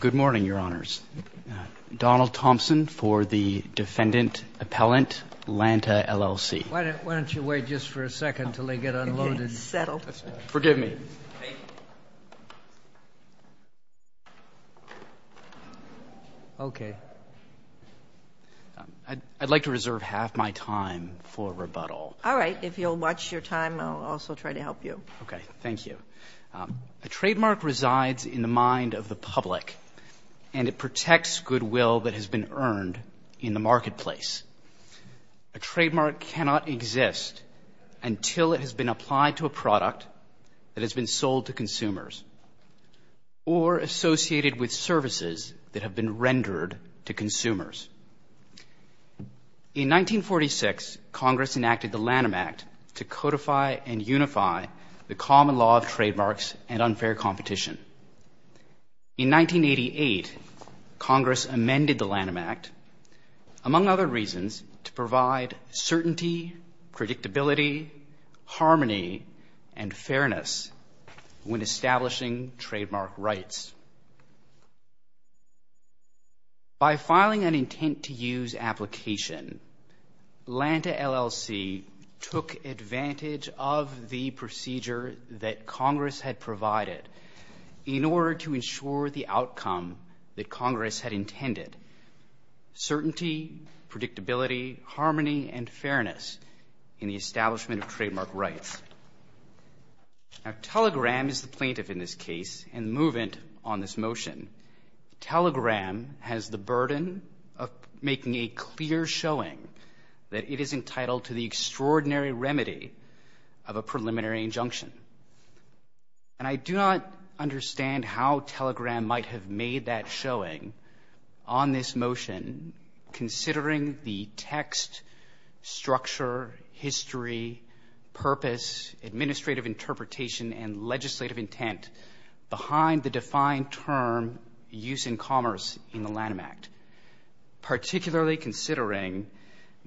Good morning, Your Honors. Donald Thompson for the Defendant Appellant, Lantah, LLC. Why don't you wait just for a second until they get unloaded? I can't settle. Forgive me. Okay. I'd like to reserve half my time for rebuttal. All right. If you'll watch your time, I'll also try to help you. Okay. Thank you. A trademark resides in the mind of the public, and it protects goodwill that has been earned in the marketplace. A trademark cannot exist until it has been applied to a product that has been sold to consumers or associated with services that have been rendered to consumers. In 1946, Congress enacted the Lanham Act to codify and unify the common law of trademarks and unfair competition. In 1988, Congress amended the Lanham Act, among other reasons, to provide certainty, predictability, harmony, and fairness when establishing trademark rights. By filing an intent-to-use application, Lantah, LLC, took advantage of the procedure that Congress had provided in order to ensure the outcome that Congress had intended, certainty, predictability, harmony, and fairness in the establishment of trademark rights. Now, Telegram is the plaintiff in this case, and the movement on this motion, Telegram has the burden of making a clear showing that it is entitled to the extraordinary remedy of a preliminary injunction. And I do not understand how Telegram might have made that showing on this motion, considering the text, structure, history, purpose, administrative interpretation, and legislative intent behind the defined term, use in commerce in the Lanham Act, particularly considering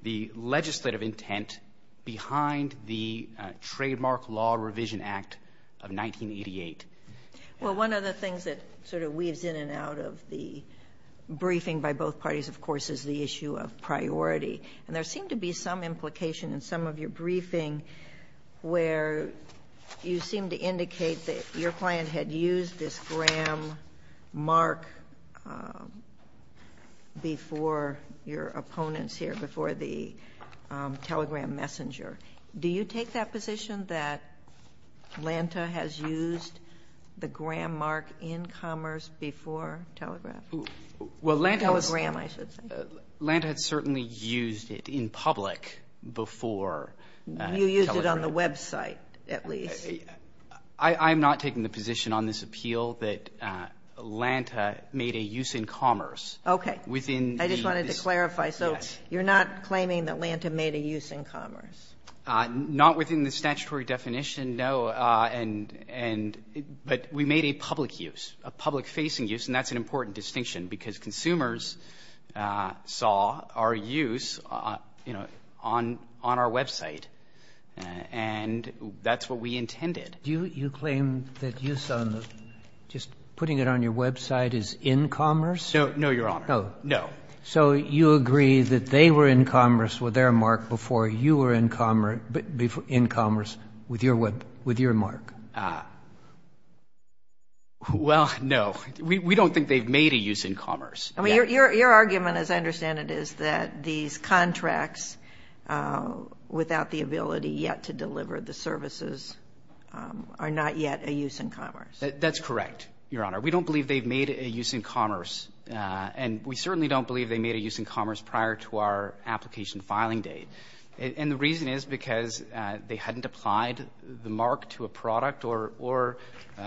the legislative intent behind the Trademark Law Revision Act of 1988. Well, one of the things that sort of weaves in and out of the briefing by both parties, of course, is the issue of priority. And there seemed to be some implication in some of your briefing where you seem to indicate that your client had used this gram mark before your opponents here, before the Telegram messenger. Do you take that position that Lanta has used the gram mark in commerce before Telegram? Telegram, I should say. Lanta had certainly used it in public before Telegram. You used it on the website, at least. I'm not taking the position on this appeal that Lanta made a use in commerce within I just wanted to clarify. So you're not claiming that Lanta made a use in commerce? Not within the statutory definition, no. And but we made a public use, a public-facing use, and that's an important distinction, because consumers saw our use, you know, on our website. And that's what we intended. Do you claim that use on the, just putting it on your website, is in commerce? No, Your Honor. Oh. No. So you agree that they were in commerce with their mark before you were in commerce with your mark? Well, no. We don't think they've made a use in commerce. I mean, your argument, as I understand it, is that these contracts without the ability yet to deliver the services are not yet a use in commerce. That's correct, Your Honor. We don't believe they've made a use in commerce. And we certainly don't believe they made a use in commerce prior to our application filing date. And the reason is because they hadn't applied the mark to a product or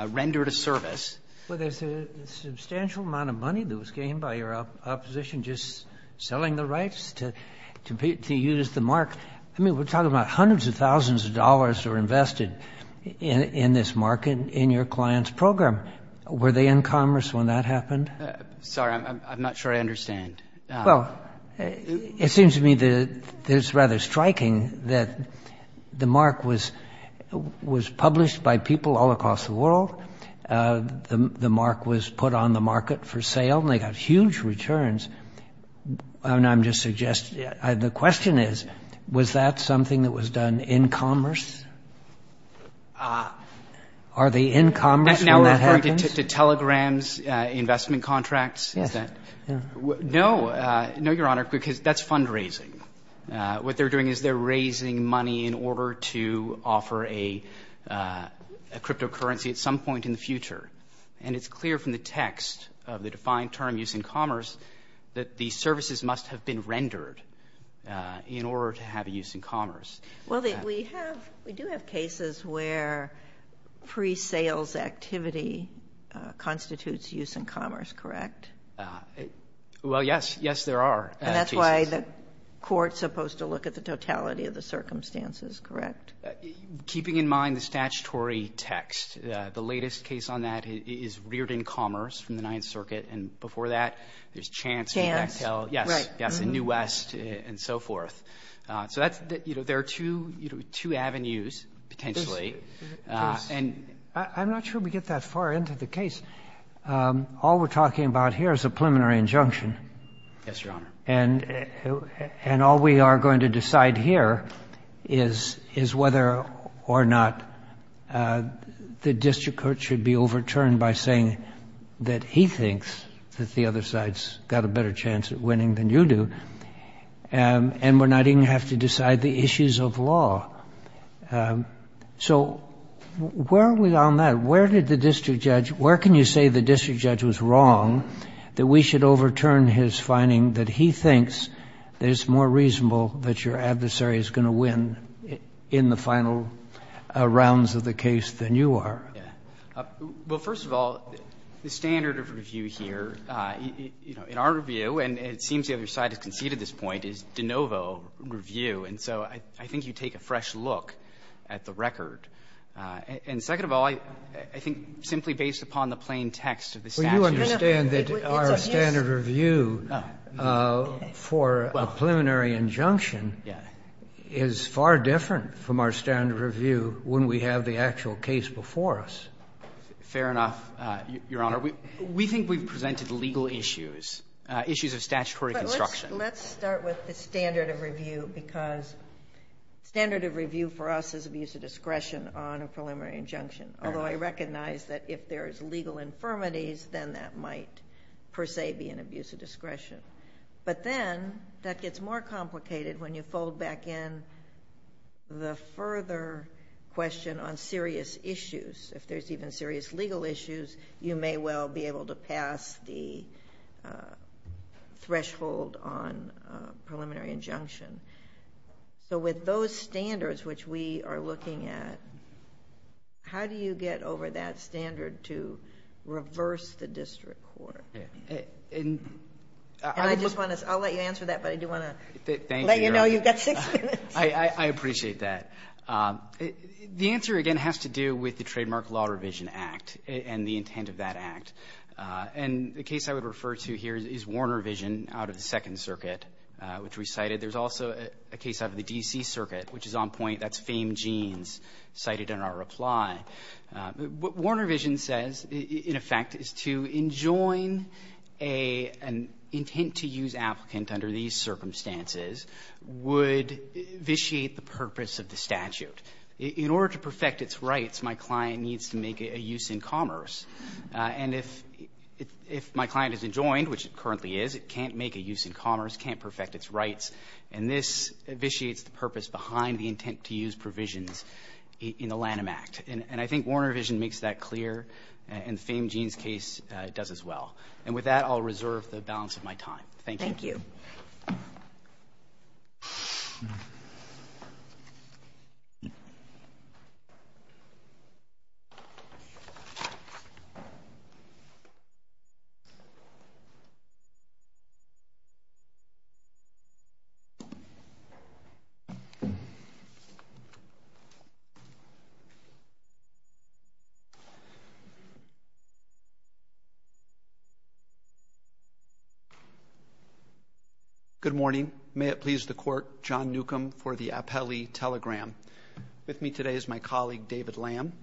rendered a service. But there's a substantial amount of money that was gained by your opposition just selling the rights to use the mark. I mean, we're talking about hundreds of thousands of dollars were invested in this market in your client's program. Were they in commerce when that happened? Sorry, I'm not sure I understand. Well, it seems to me that it's rather striking that the mark was published by people all across the world. The mark was put on the market for sale, and they got huge returns. And I'm just suggesting, the question is, was that something that was done in commerce? Are they in commerce when that happens? Now referring to telegrams, investment contracts? Yes. No, Your Honor, because that's fundraising. What they're doing is they're raising money in order to offer a cryptocurrency at some point in the future. And it's clear from the text of the defined term, use in commerce, that the services must have been rendered in order to have a use in commerce. Well, we do have cases where pre-sales activity constitutes use in commerce, correct? Well, yes. Yes, there are. And that's why the court's supposed to look at the totality of the circumstances, correct? Keeping in mind the statutory text, the latest case on that is reared in commerce from the Ninth Circuit. And before that, there's Chance. Chance, right. Yes, in New West and so forth. So there are two avenues, potentially. I'm not sure we get that far into the case. All we're talking about here is a preliminary injunction. Yes, Your Honor. And all we are going to decide here is whether or not the district court should be overturned by saying that he thinks that the other side's got a better chance at winning than you do. And we're not even going to have to decide the issues of law. So where are we on that? Where did the district judge, where can you say the district judge was wrong that we should overturn his finding that he thinks that it's more reasonable that your adversary is going to win in the final rounds of the case than you are? Well, first of all, the standard of review here, you know, in our review, and it seems the other side has conceded this point, is de novo review. And so I think you take a fresh look at the record. And second of all, I think simply based upon the plain text of the statute. Well, you understand that our standard of review for a preliminary injunction is far different from our standard of review when we have the actual case before us. Fair enough, Your Honor. We think we've presented legal issues, issues of statutory construction. Let's start with the standard of review, because standard of review for us is abuse of discretion on a preliminary injunction. Although I recognize that if there's legal infirmities, then that might per se be an abuse of discretion. But then that gets more complicated when you fold back in the further question on serious issues. If there's even serious legal issues, you may well be able to pass the threshold on a preliminary injunction. So with those standards which we are looking at, how do you get over that standard to reverse the district court? And I just want to, I'll let you answer that, but I do want to let you know you've got six minutes. I appreciate that. The answer, again, has to do with the Trademark Law Revision Act and the intent of that act. And the case I would refer to here is Warner Vision out of the Second Circuit, which we cited. There's also a case out of the D.C. Circuit, which is on point. That's Fame Jeans cited in our reply. What Warner Vision says, in effect, is to enjoin an intent-to-use applicant under these circumstances would vitiate the purpose of the statute. In order to perfect its rights, my client needs to make a use in commerce. And if my client is enjoined, which it currently is, it can't make a use in commerce, can't perfect its rights. And this vitiates the purpose behind the intent-to-use provisions in the Lanham Act. And I think Warner Vision makes that clear, and the Fame Jeans case does as well. And with that, I'll reserve the balance of my time. Thank you. Thank you. Good morning. May it please the Court, John Newcomb for the Appellee Telegram. With me today is my colleague, David Lamb.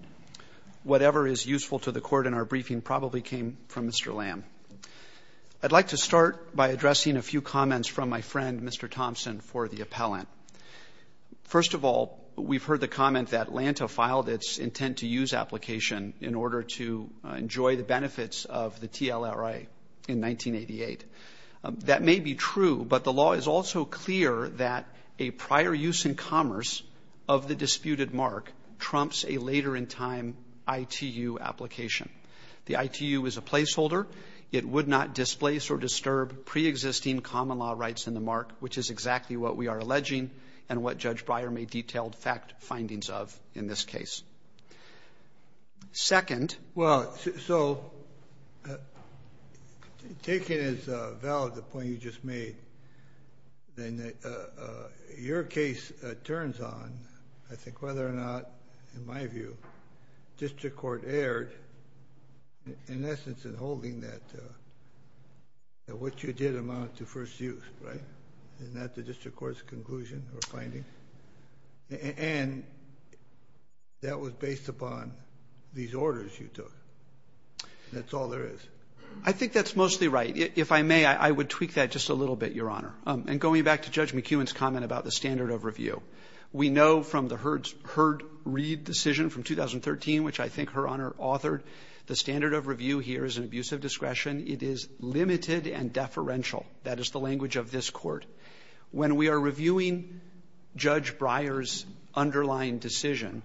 Whatever is useful to the Court in our briefing probably came from Mr. Lamb. I'd like to start by addressing a few comments from my friend, Mr. Thompson, for the appellant. First of all, we've heard the comment that Lanta filed its intent-to-use application in order to enjoy the benefits of the TLRA in 1988. That may be true, but the law is also clear that a prior use in commerce of the disputed mark trumps a later-in-time ITU application. The ITU is a placeholder. It would not displace or disturb preexisting common law rights in the mark, which is exactly what we are alleging and what Judge Breyer made detailed fact findings of in this case. Second. Well, so, taking as valid the point you just made, then your case turns on, I think, whether or not, in my view, district court erred, in essence, in holding that what you did amount to first use, right? Isn't that the district court's conclusion or finding? And that was based upon these orders you took. That's all there is. I think that's mostly right. If I may, I would tweak that just a little bit, Your Honor. And going back to Judge McEwen's comment about the standard of review. We know from the Hurd-Reed decision from 2013, which I think Her Honor authored, the standard of review here is an abuse of discretion. It is limited and deferential. That is the language of this court. When we are reviewing Judge Breyer's underlying decision,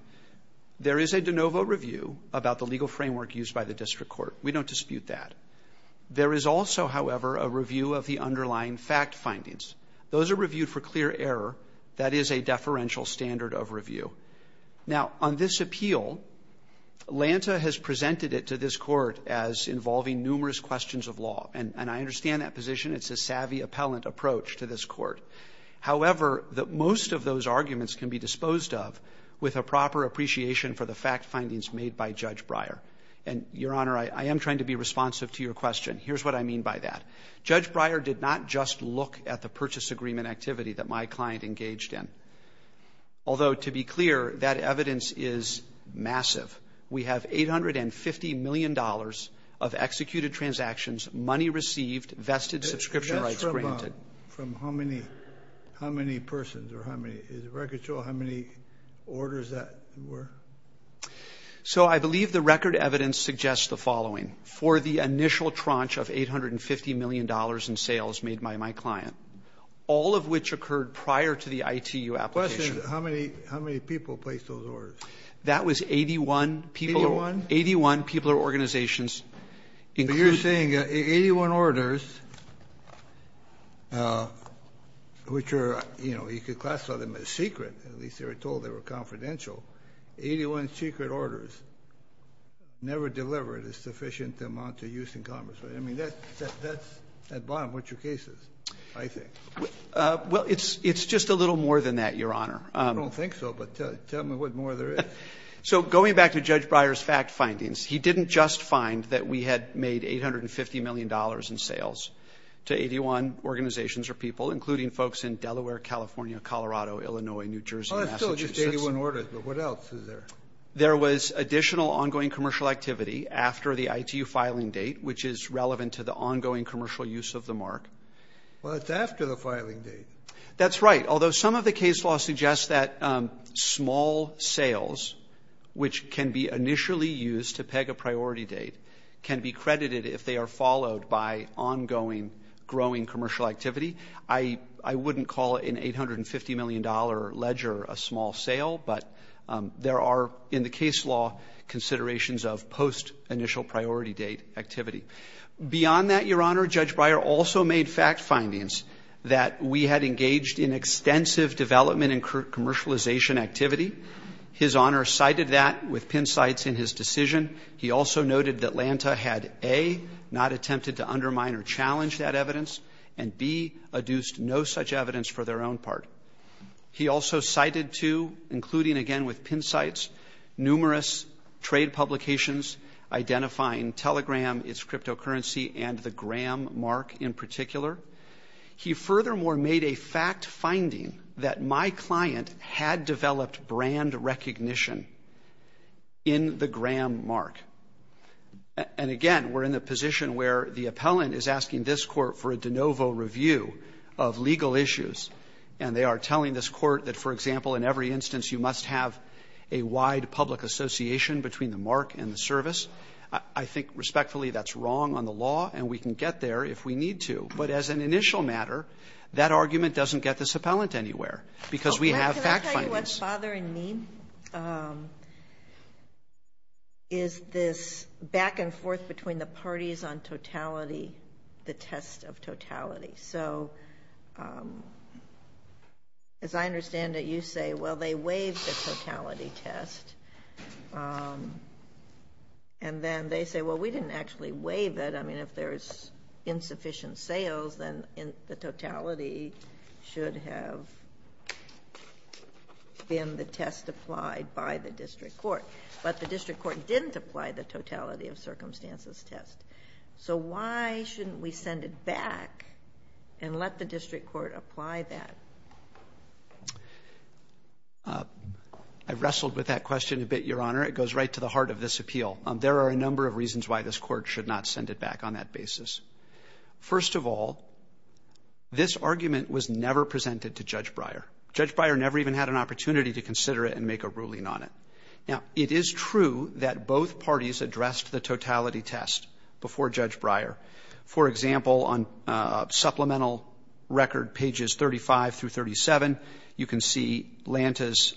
there is a de novo review about the legal framework used by the district court. We don't dispute that. There is also, however, a review of the underlying fact findings. Those are reviewed for clear error. That is a deferential standard of review. Now, on this appeal, Lanta has presented it to this court as involving numerous questions of law. And I understand that position. It's a savvy appellant approach to this court. However, most of those arguments can be disposed of with a proper appreciation for the fact findings made by Judge Breyer. And, Your Honor, I am trying to be responsive to your question. Here's what I mean by that. Judge Breyer did not just look at the purchase agreement activity that my client engaged in. Although, to be clear, that evidence is massive. We have $850 million of executed transactions, money received, vested subscription rights granted. That's from how many persons or how many? Does the record show how many orders that were? So I believe the record evidence suggests the following. For the initial tranche of $850 million in sales made by my client, all of which occurred How many people placed those orders? That was 81 people. 81? 81 people or organizations. But you're saying 81 orders, which are, you know, you could classify them as secret. At least they were told they were confidential. 81 secret orders never delivered a sufficient amount of use in Congress. I mean, that's, at bottom, what your case is, I think. Well, it's just a little more than that, Your Honor. I don't think so, but tell me what more there is. So going back to Judge Breyer's fact findings, he didn't just find that we had made $850 million in sales to 81 organizations or people, including folks in Delaware, California, Colorado, Illinois, New Jersey, Massachusetts. Well, it's still just 81 orders, but what else is there? There was additional ongoing commercial activity after the ITU filing date, which is relevant to the ongoing commercial use of the mark. Well, it's after the filing date. That's right. Although some of the case law suggests that small sales, which can be initially used to peg a priority date, can be credited if they are followed by ongoing growing commercial activity. I wouldn't call an $850 million ledger a small sale, but there are, in the case law, considerations of post-initial priority date activity. Beyond that, Your Honor, Judge Breyer also made fact findings that we had engaged in extensive development and commercialization activity. His Honor cited that with pin sites in his decision. He also noted that Lanta had, A, not attempted to undermine or challenge that evidence, and, B, adduced no such evidence for their own part. He also cited, too, including again with pin sites, numerous trade publications identifying Telegram, its cryptocurrency, and the Gram mark in particular. He furthermore made a fact finding that my client had developed brand recognition in the Gram mark. And again, we're in the position where the appellant is asking this court for a de novo review of legal issues, and they are telling this court that, for example, in every instance you must have a wide public association between the mark and the service. I think respectfully that's wrong on the law, and we can get there if we need to. But as an initial matter, that argument doesn't get this appellant anywhere, because we have fact findings. Can I tell you what's bothering me? Is this back and forth between the parties on totality, the test of totality. So as I understand it, you say, well, they waived the totality test. And then they say, well, we didn't actually waive it. I mean, if there's insufficient sales, then the totality should have been the test applied by the district court. But the district court didn't apply the totality of circumstances test. So why shouldn't we send it back and let the district court apply that? I wrestled with that question a bit, Your Honor. It goes right to the heart of this appeal. There are a number of reasons why this Court should not send it back on that basis. First of all, this argument was never presented to Judge Breyer. Judge Breyer never even had an opportunity to consider it and make a ruling on it. Now, it is true that both parties addressed the totality test before Judge Breyer. For example, on supplemental record pages 35 through 37, you can see Lanta's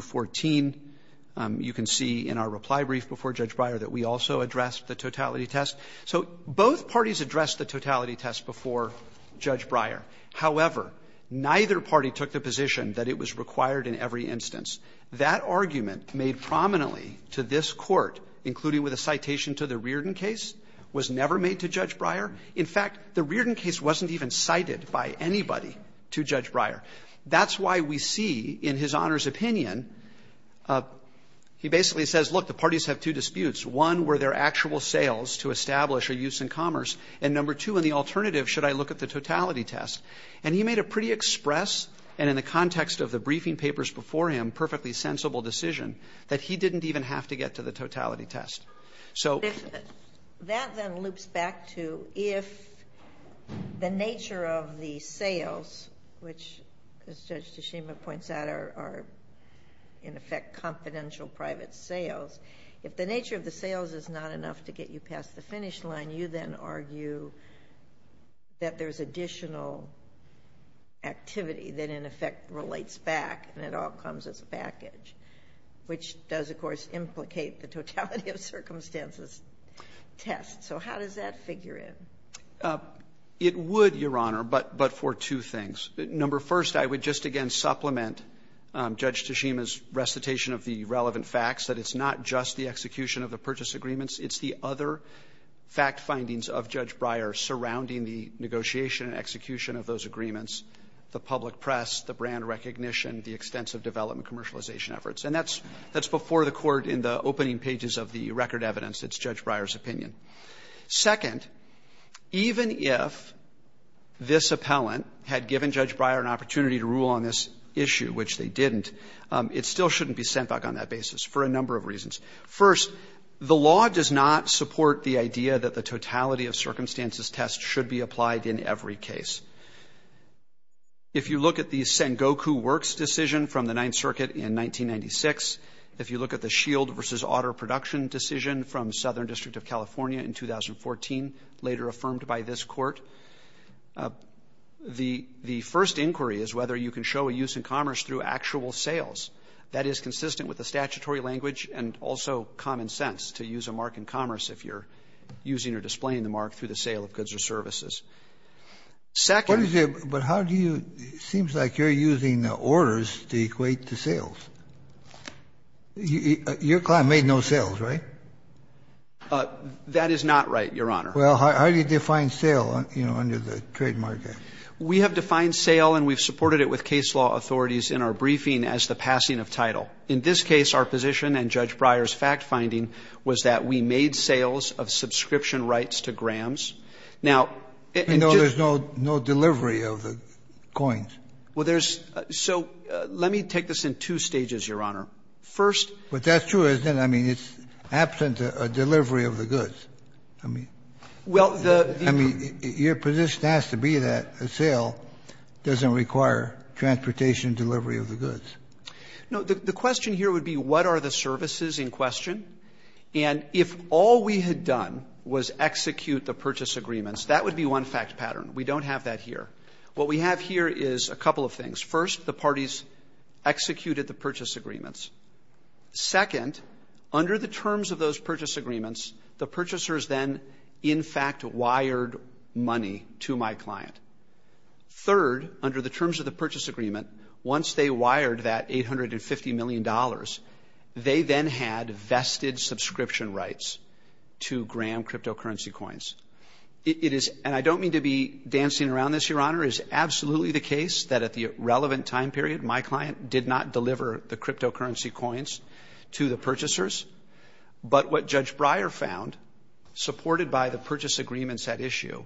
14, you can see in our reply brief before Judge Breyer that we also addressed the totality test. So both parties addressed the totality test before Judge Breyer. However, neither party took the position that it was required in every instance. That argument made prominently to this Court, including with a citation to the Reardon case, was never made to Judge Breyer. In fact, the Reardon case wasn't even cited by anybody to Judge Breyer. That's why we see in his Honor's opinion, he basically says, look, the parties have two disputes. One, were there actual sales to establish a use in commerce? And number two, in the alternative, should I look at the totality test? And he made a pretty express and in the context of the briefing papers before him, perfectly sensible decision that he didn't even have to get to the totality test. So that then loops back to if the nature of the sales, which Judge Tashima points out are in effect, confidential private sales, if the nature of the sales is not enough to get you past the finish line, you then argue that there's additional activity that in effect relates back and it all comes as a package, which does, of course, implicate the totality of circumstances test. So how does that figure in? It would, Your Honor, but for two things. Number first, I would just again supplement Judge Tashima's recitation of the relevant facts that it's not just the execution of the purchase agreements. It's the other fact findings of Judge Breyer surrounding the negotiation and execution of those agreements, the public press, the brand recognition, the extensive development commercialization efforts. And that's before the court in the opening pages of the record evidence. It's Judge Breyer's opinion. Second, even if this appellant had given Judge Breyer an opportunity to rule on this issue, which they didn't, it still shouldn't be sent back on that basis for a number of reasons. First, the law does not support the idea that the totality of circumstances test should be applied in every case. If you look at the Sengoku Works decision from the Ninth Circuit in 1996, if you look at the Shield versus Otter production decision from Southern District of California in 2014, later affirmed by this court, the first inquiry is whether you can show a use in commerce through actual sales. That is consistent with the statutory language and also common sense to use a mark in commerce if you're using or displaying the mark through the sale of goods or services. Second. But how do you, it seems like you're using the orders to equate to sales. Your client made no sales, right? That is not right, Your Honor. Well, how do you define sale, you know, under the trademark act? We have defined sale and we've supported it with case law authorities in our briefing as the passing of title. In this case, our position and Judge Breyer's fact finding was that we made sales of subscription rights to grams. Now, I know there's no delivery of the coins. Well, there's so let me take this in two stages, Your Honor. First, but that's true, isn't it? I mean, it's absent a delivery of the goods. I mean, well, I mean, your position has to be that a sale doesn't require transportation delivery of the goods. No, the question here would be what are the services in question? And if all we had done was execute the purchase agreements, that would be one fact pattern. We don't have that here. What we have here is a couple of things. First, the parties executed the purchase agreements. Second, under the terms of those purchase agreements, the purchasers then, in fact, wired money to my client. Third, under the terms of the purchase agreement, once they wired that $850 million, they then had vested subscription rights to Graham cryptocurrency coins. It is, and I don't mean to be dancing around this, Your Honor, is absolutely the case that at the relevant time period, my client did not deliver the cryptocurrency coins to the purchasers. But what Judge Breyer found, supported by the purchase agreements at issue,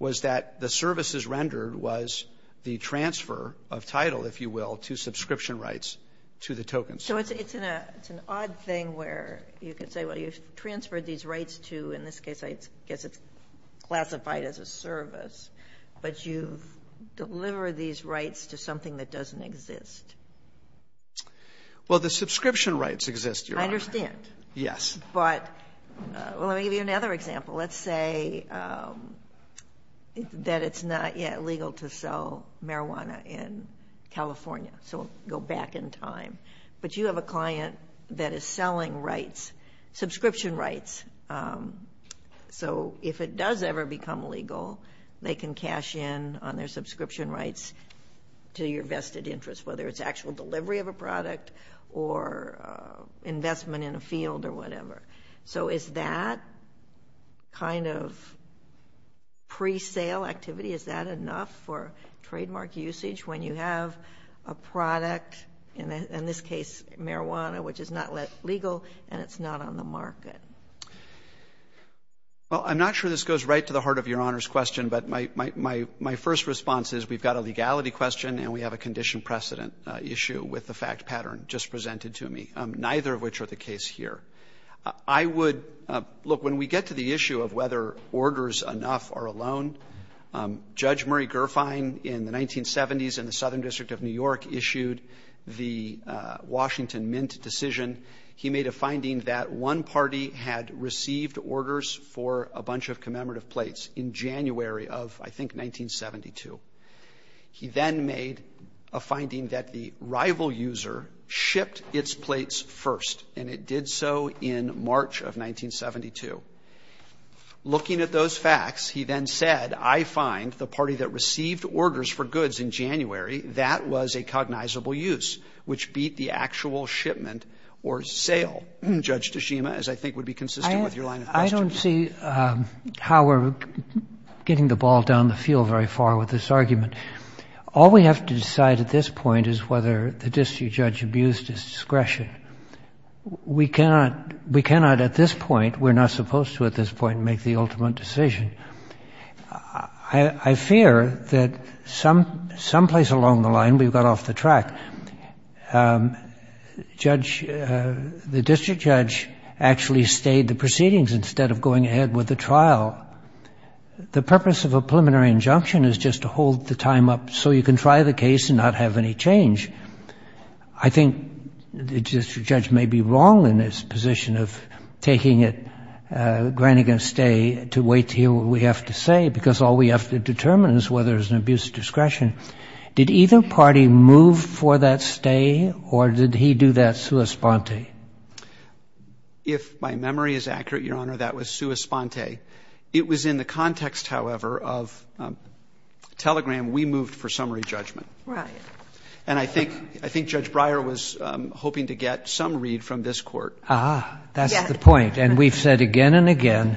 was that the services rendered was the transfer of title, if you will, to subscription rights to the tokens. So it's an odd thing where you could say, well, you've transferred these rights to, in this case, I guess it's classified as a service, but you've delivered these rights to something that doesn't exist. Well, the subscription rights exist, Your Honor. I understand. Yes. But let me give you another example. Let's say that it's not yet legal to sell marijuana in California. So we'll go back in time. But you have a client that is selling rights, subscription rights. So if it does ever become legal, they can cash in on their subscription rights to your vested interest, whether it's actual delivery of a product or investment in a field or whatever. So is that kind of pre-sale activity, is that enough for trademark usage when you have a marijuana, which is not legal and it's not on the market? Well, I'm not sure this goes right to the heart of Your Honor's question. But my first response is we've got a legality question and we have a condition precedent issue with the fact pattern just presented to me, neither of which are the case here. I would — look, when we get to the issue of whether orders enough are alone, Judge Murray Gerfine in the 1970s in the Southern District of New York issued the Washington Mint decision. He made a finding that one party had received orders for a bunch of commemorative plates in January of, I think, 1972. He then made a finding that the rival user shipped its plates first, and it did so in March of 1972. Looking at those facts, he then said, I find the party that received orders for goods in January, that was a cognizable use, which beat the actual shipment or sale, Judge DeShima, as I think would be consistent with your line of questioning. I don't see how we're getting the ball down the field very far with this argument. All we have to decide at this point is whether the district judge abused his discretion. We cannot at this point — we're not supposed to at this point make the ultimate decision. I fear that someplace along the line we've got off the track. Judge — the district judge actually stayed the proceedings instead of going ahead with the trial. The purpose of a preliminary injunction is just to hold the time up so you can try the case and not have any change. I think the district judge may be wrong in his position of taking it, granting a stay, to wait to hear what we have to say, because all we have to determine is whether it was an abuse of discretion. Did either party move for that stay, or did he do that sua sponte? If my memory is accurate, Your Honor, that was sua sponte. It was in the context, however, of Telegram, we moved for summary judgment. Right. And I think — I think Judge Breyer was hoping to get some read from this Court. Ah, that's the point. And we've said again and again,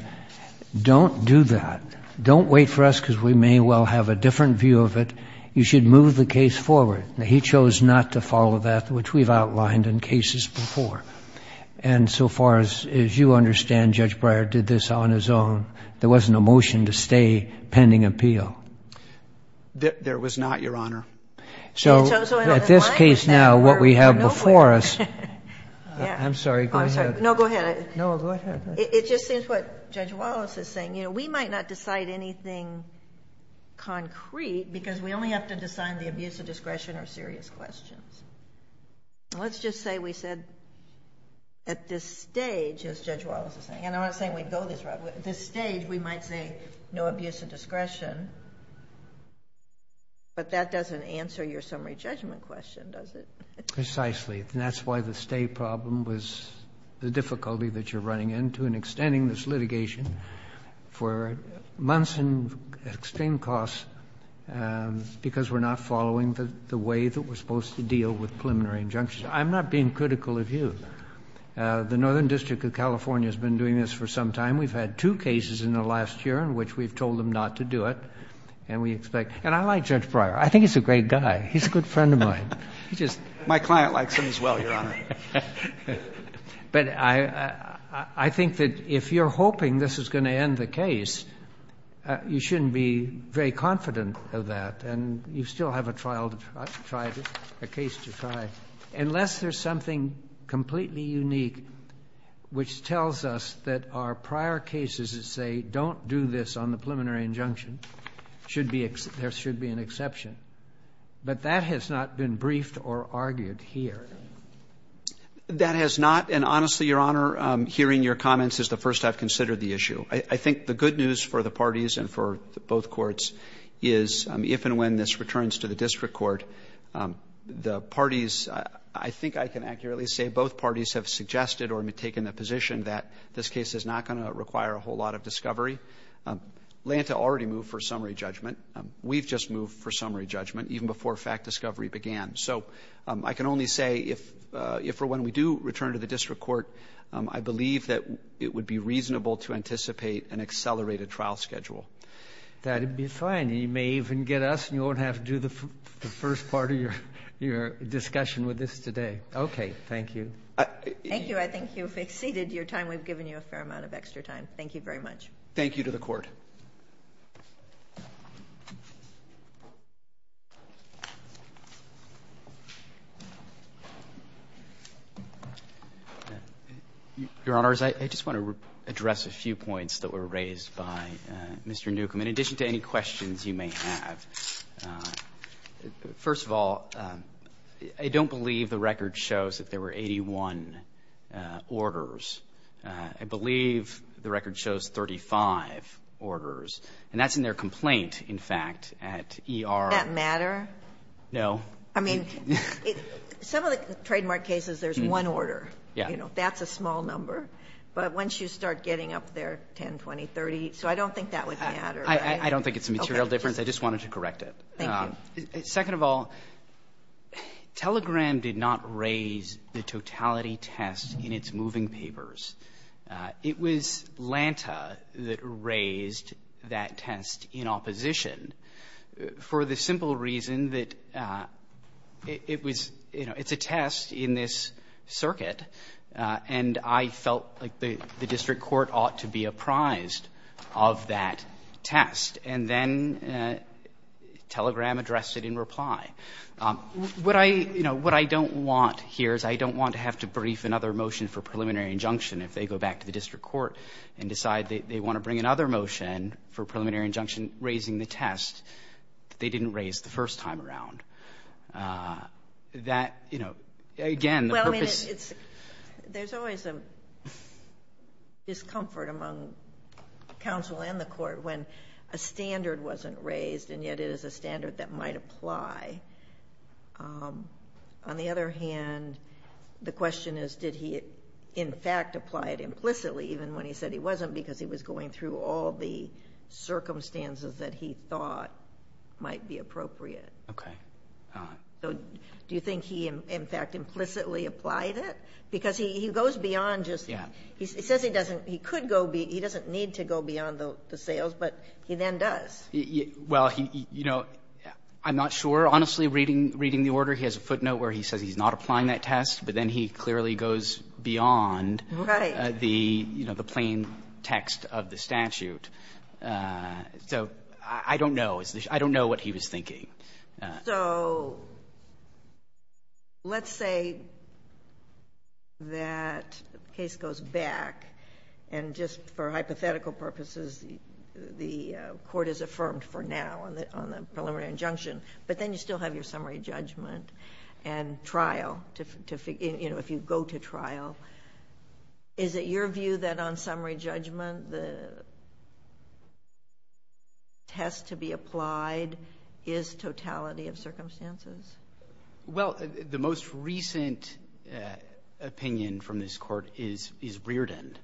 don't do that. Don't wait for us because we may well have a different view of it. You should move the case forward. He chose not to follow that, which we've outlined in cases before. And so far as you understand, Judge Breyer did this on his own. There wasn't a motion to stay pending appeal. There was not, Your Honor. So at this case now, what we have before us... I'm sorry, go ahead. No, go ahead. It just seems what Judge Wallace is saying, you know, we might not decide anything concrete because we only have to decide the abuse of discretion or serious questions. Let's just say we said at this stage, as Judge Wallace is saying, and I'm not saying we'd go this route, at this stage, we might say no abuse of discretion. But that doesn't answer your summary judgment question, does it? Precisely. And that's why the stay problem was the difficulty that you're running into in extending this litigation for months and extreme costs because we're not following the way that we're supposed to deal with preliminary injunctions. I'm not being critical of you. The Northern District of California has been doing this for some time. We've had two cases in the last year in which we've told them not to do it. And we expect... And I like Judge Breyer. I think he's a great guy. He's a good friend of mine. He just... My client likes him as well, Your Honor. But I think that if you're hoping this is going to end the case, you shouldn't be very confident of that. And you still have a trial to try, a case to try, unless there's something completely unique which tells us that our prior cases that say don't do this on the preliminary injunction should be... there should be an exception. But that has not been briefed or argued here. That has not. And honestly, Your Honor, hearing your comments is the first I've considered the issue. I think the good news for the parties and for both courts is if and when this returns to the district court, the parties... I think I can accurately say both parties have suggested or have taken the position that this case is not going to require a whole lot of discovery. Lanta already moved for summary judgment. We've just moved for summary judgment even before fact discovery began. So I can only say if or when we do return to the district court, I believe that it would be reasonable to anticipate an accelerated trial schedule. That'd be fine. You may even get us and you won't have to do the first part of your discussion with this today. Okay. Thank you. Thank you. I think you've exceeded your time. We've given you a fair amount of extra time. Thank you very much. Thank you to the Court. Your Honors, I just want to address a few points that were raised by Mr. Newcomb. In addition to any questions you may have, first of all, I don't believe the record shows that there were 81 orders. I believe the record shows 35 orders, and that's in their complaint, in fact, at ER. Does that matter? No. I mean, some of the trademark cases, there's one order. Yes. That's a small number. But once you start getting up there, 10, 20, 30, so I don't think that would matter. I don't think it's a material difference. I just wanted to correct it. Thank you. Second of all, Telegram did not raise the totality test in its moving papers. It was Lanta that raised that test in opposition for the simple reason that it was, you know, it's a test in this circuit, and I felt like the district court ought to be apprised of that test, and then Telegram addressed it in reply. What I don't want here is I don't want to have to brief another motion for preliminary injunction if they go back to the district court and decide that they want to bring another motion for preliminary injunction raising the test that they didn't raise the first time around. That, you know, again, the purpose... There's always a discomfort among counsel and the court when a standard wasn't raised, and yet it is a standard that might apply. On the other hand, the question is did he in fact apply it implicitly even when he said he wasn't because he was going through all the circumstances that he thought might be appropriate? Okay. So do you think he in fact implicitly applied it? Because he goes beyond just... Yeah. He says he doesn't need to go beyond the sales, but he then does. Well, you know, I'm not sure. Honestly, reading the order, he has a footnote where he says he's not applying that test, but then he clearly goes beyond the, you know, the plain text of the statute. So I don't know. I don't know what he was thinking. So let's say that case goes back, and just for hypothetical purposes, the court is affirmed for now on the preliminary injunction, but then you still have your summary judgment and trial, you know, if you go to trial. Is it your view that on summary judgment, the test to be applied is totality of circumstances? Well, the most recent opinion from this Court is Reardon,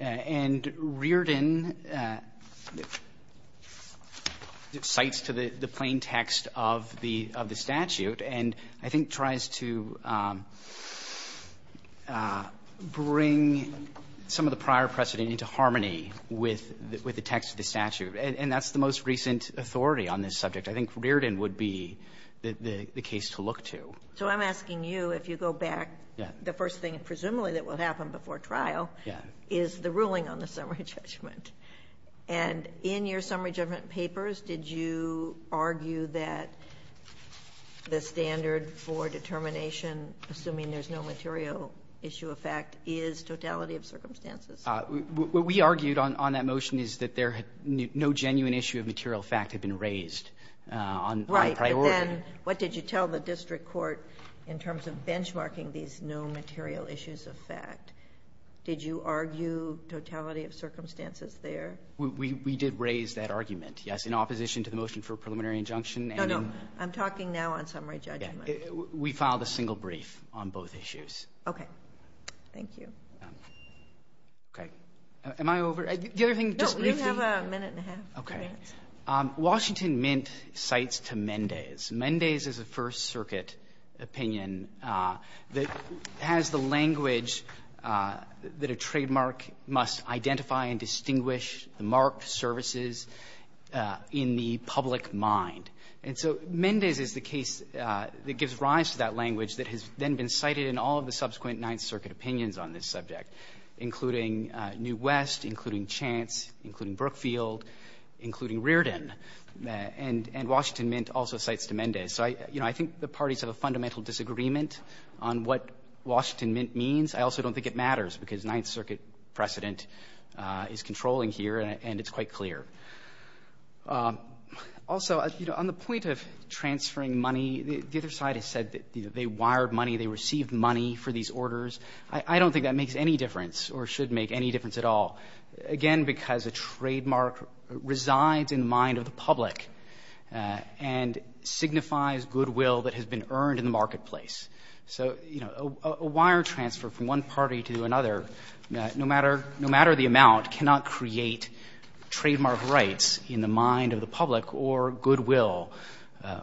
and Reardon cites to the bring some of the prior precedent into harmony with the text of the statute. And that's the most recent authority on this subject. I think Reardon would be the case to look to. So I'm asking you, if you go back, the first thing presumably that will happen before trial is the ruling on the summary judgment. And in your summary judgment papers, did you argue that the standard for determination, assuming there's no material issue of fact, is totality of circumstances? What we argued on that motion is that no genuine issue of material fact had been raised on priority. Right. But then what did you tell the district court in terms of benchmarking these no material issues of fact? Did you argue totality of circumstances there? We did raise that argument, yes, in opposition to the motion for a preliminary injunction. No, no. I'm talking now on summary judgment. We filed a single brief on both issues. Okay. Thank you. Okay. Am I over? The other thing just briefly. No, you have a minute and a half. Okay. Washington Mint cites to Mendez. Mendez is a First Circuit opinion that has the language that a trademark must identify and distinguish the marked services in the public mind. And so Mendez is the case that gives rise to that language that has then been cited in all of the subsequent Ninth Circuit opinions on this subject, including New West, including Chance, including Brookfield, including Riordan. And Washington Mint also cites to Mendez. So, you know, I think the parties have a fundamental disagreement on what Washington Mint means. I also don't think it matters because Ninth Circuit precedent is controlling here, and it's quite clear. Also, you know, on the point of transferring money, the other side has said that they wired money, they received money for these orders. I don't think that makes any difference or should make any difference at all. Again, because a trademark resides in mind of the public and signifies goodwill that has been earned in the marketplace. So, you know, a wire transfer from one party to another, no matter the amount, cannot create trademark rights in the mind of the public or goodwill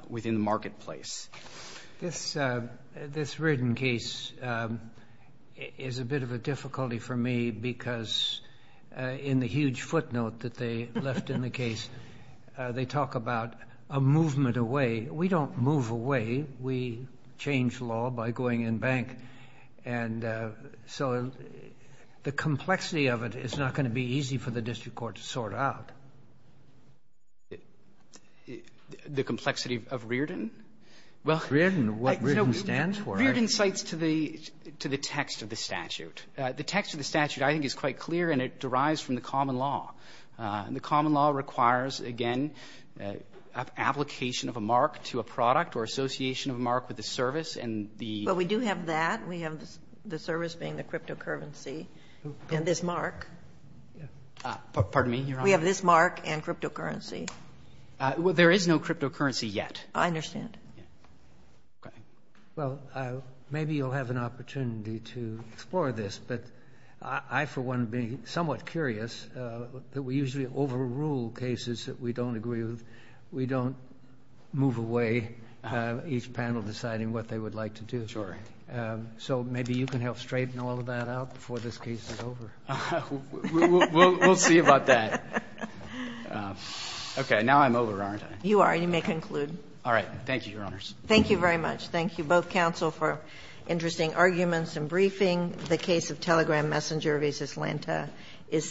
within the marketplace. This Riordan case is a bit of a difficulty for me because in the huge footnote that they left in the case, they talk about a movement away. We don't move away. We change law by going in bank. And so the complexity of it is not going to be easy for the district court to sort out. The complexity of Riordan? Well, Riordan, what Riordan stands for? Riordan cites to the text of the statute. The text of the statute, I think, is quite clear, and it derives from the common law. The common law requires, again, application of a mark to a product or association of a mark with the service and the We do have that. We have the service being the cryptocurrency and this mark. Pardon me? You're on? We have this mark and cryptocurrency. There is no cryptocurrency yet. I understand. Well, maybe you'll have an opportunity to explore this. But I, for one, am somewhat curious that we usually overrule cases that we don't agree with. We don't move away, each panel deciding what they would like to do. So maybe you can help straighten all of that out before this case is over. We'll see about that. Okay. Now I'm over, aren't I? You are. You may conclude. All right. Thank you, Your Honors. Thank you very much. Thank you, both counsel, for interesting arguments and briefing. The case of Telegram Messenger v. Atlanta is submitted.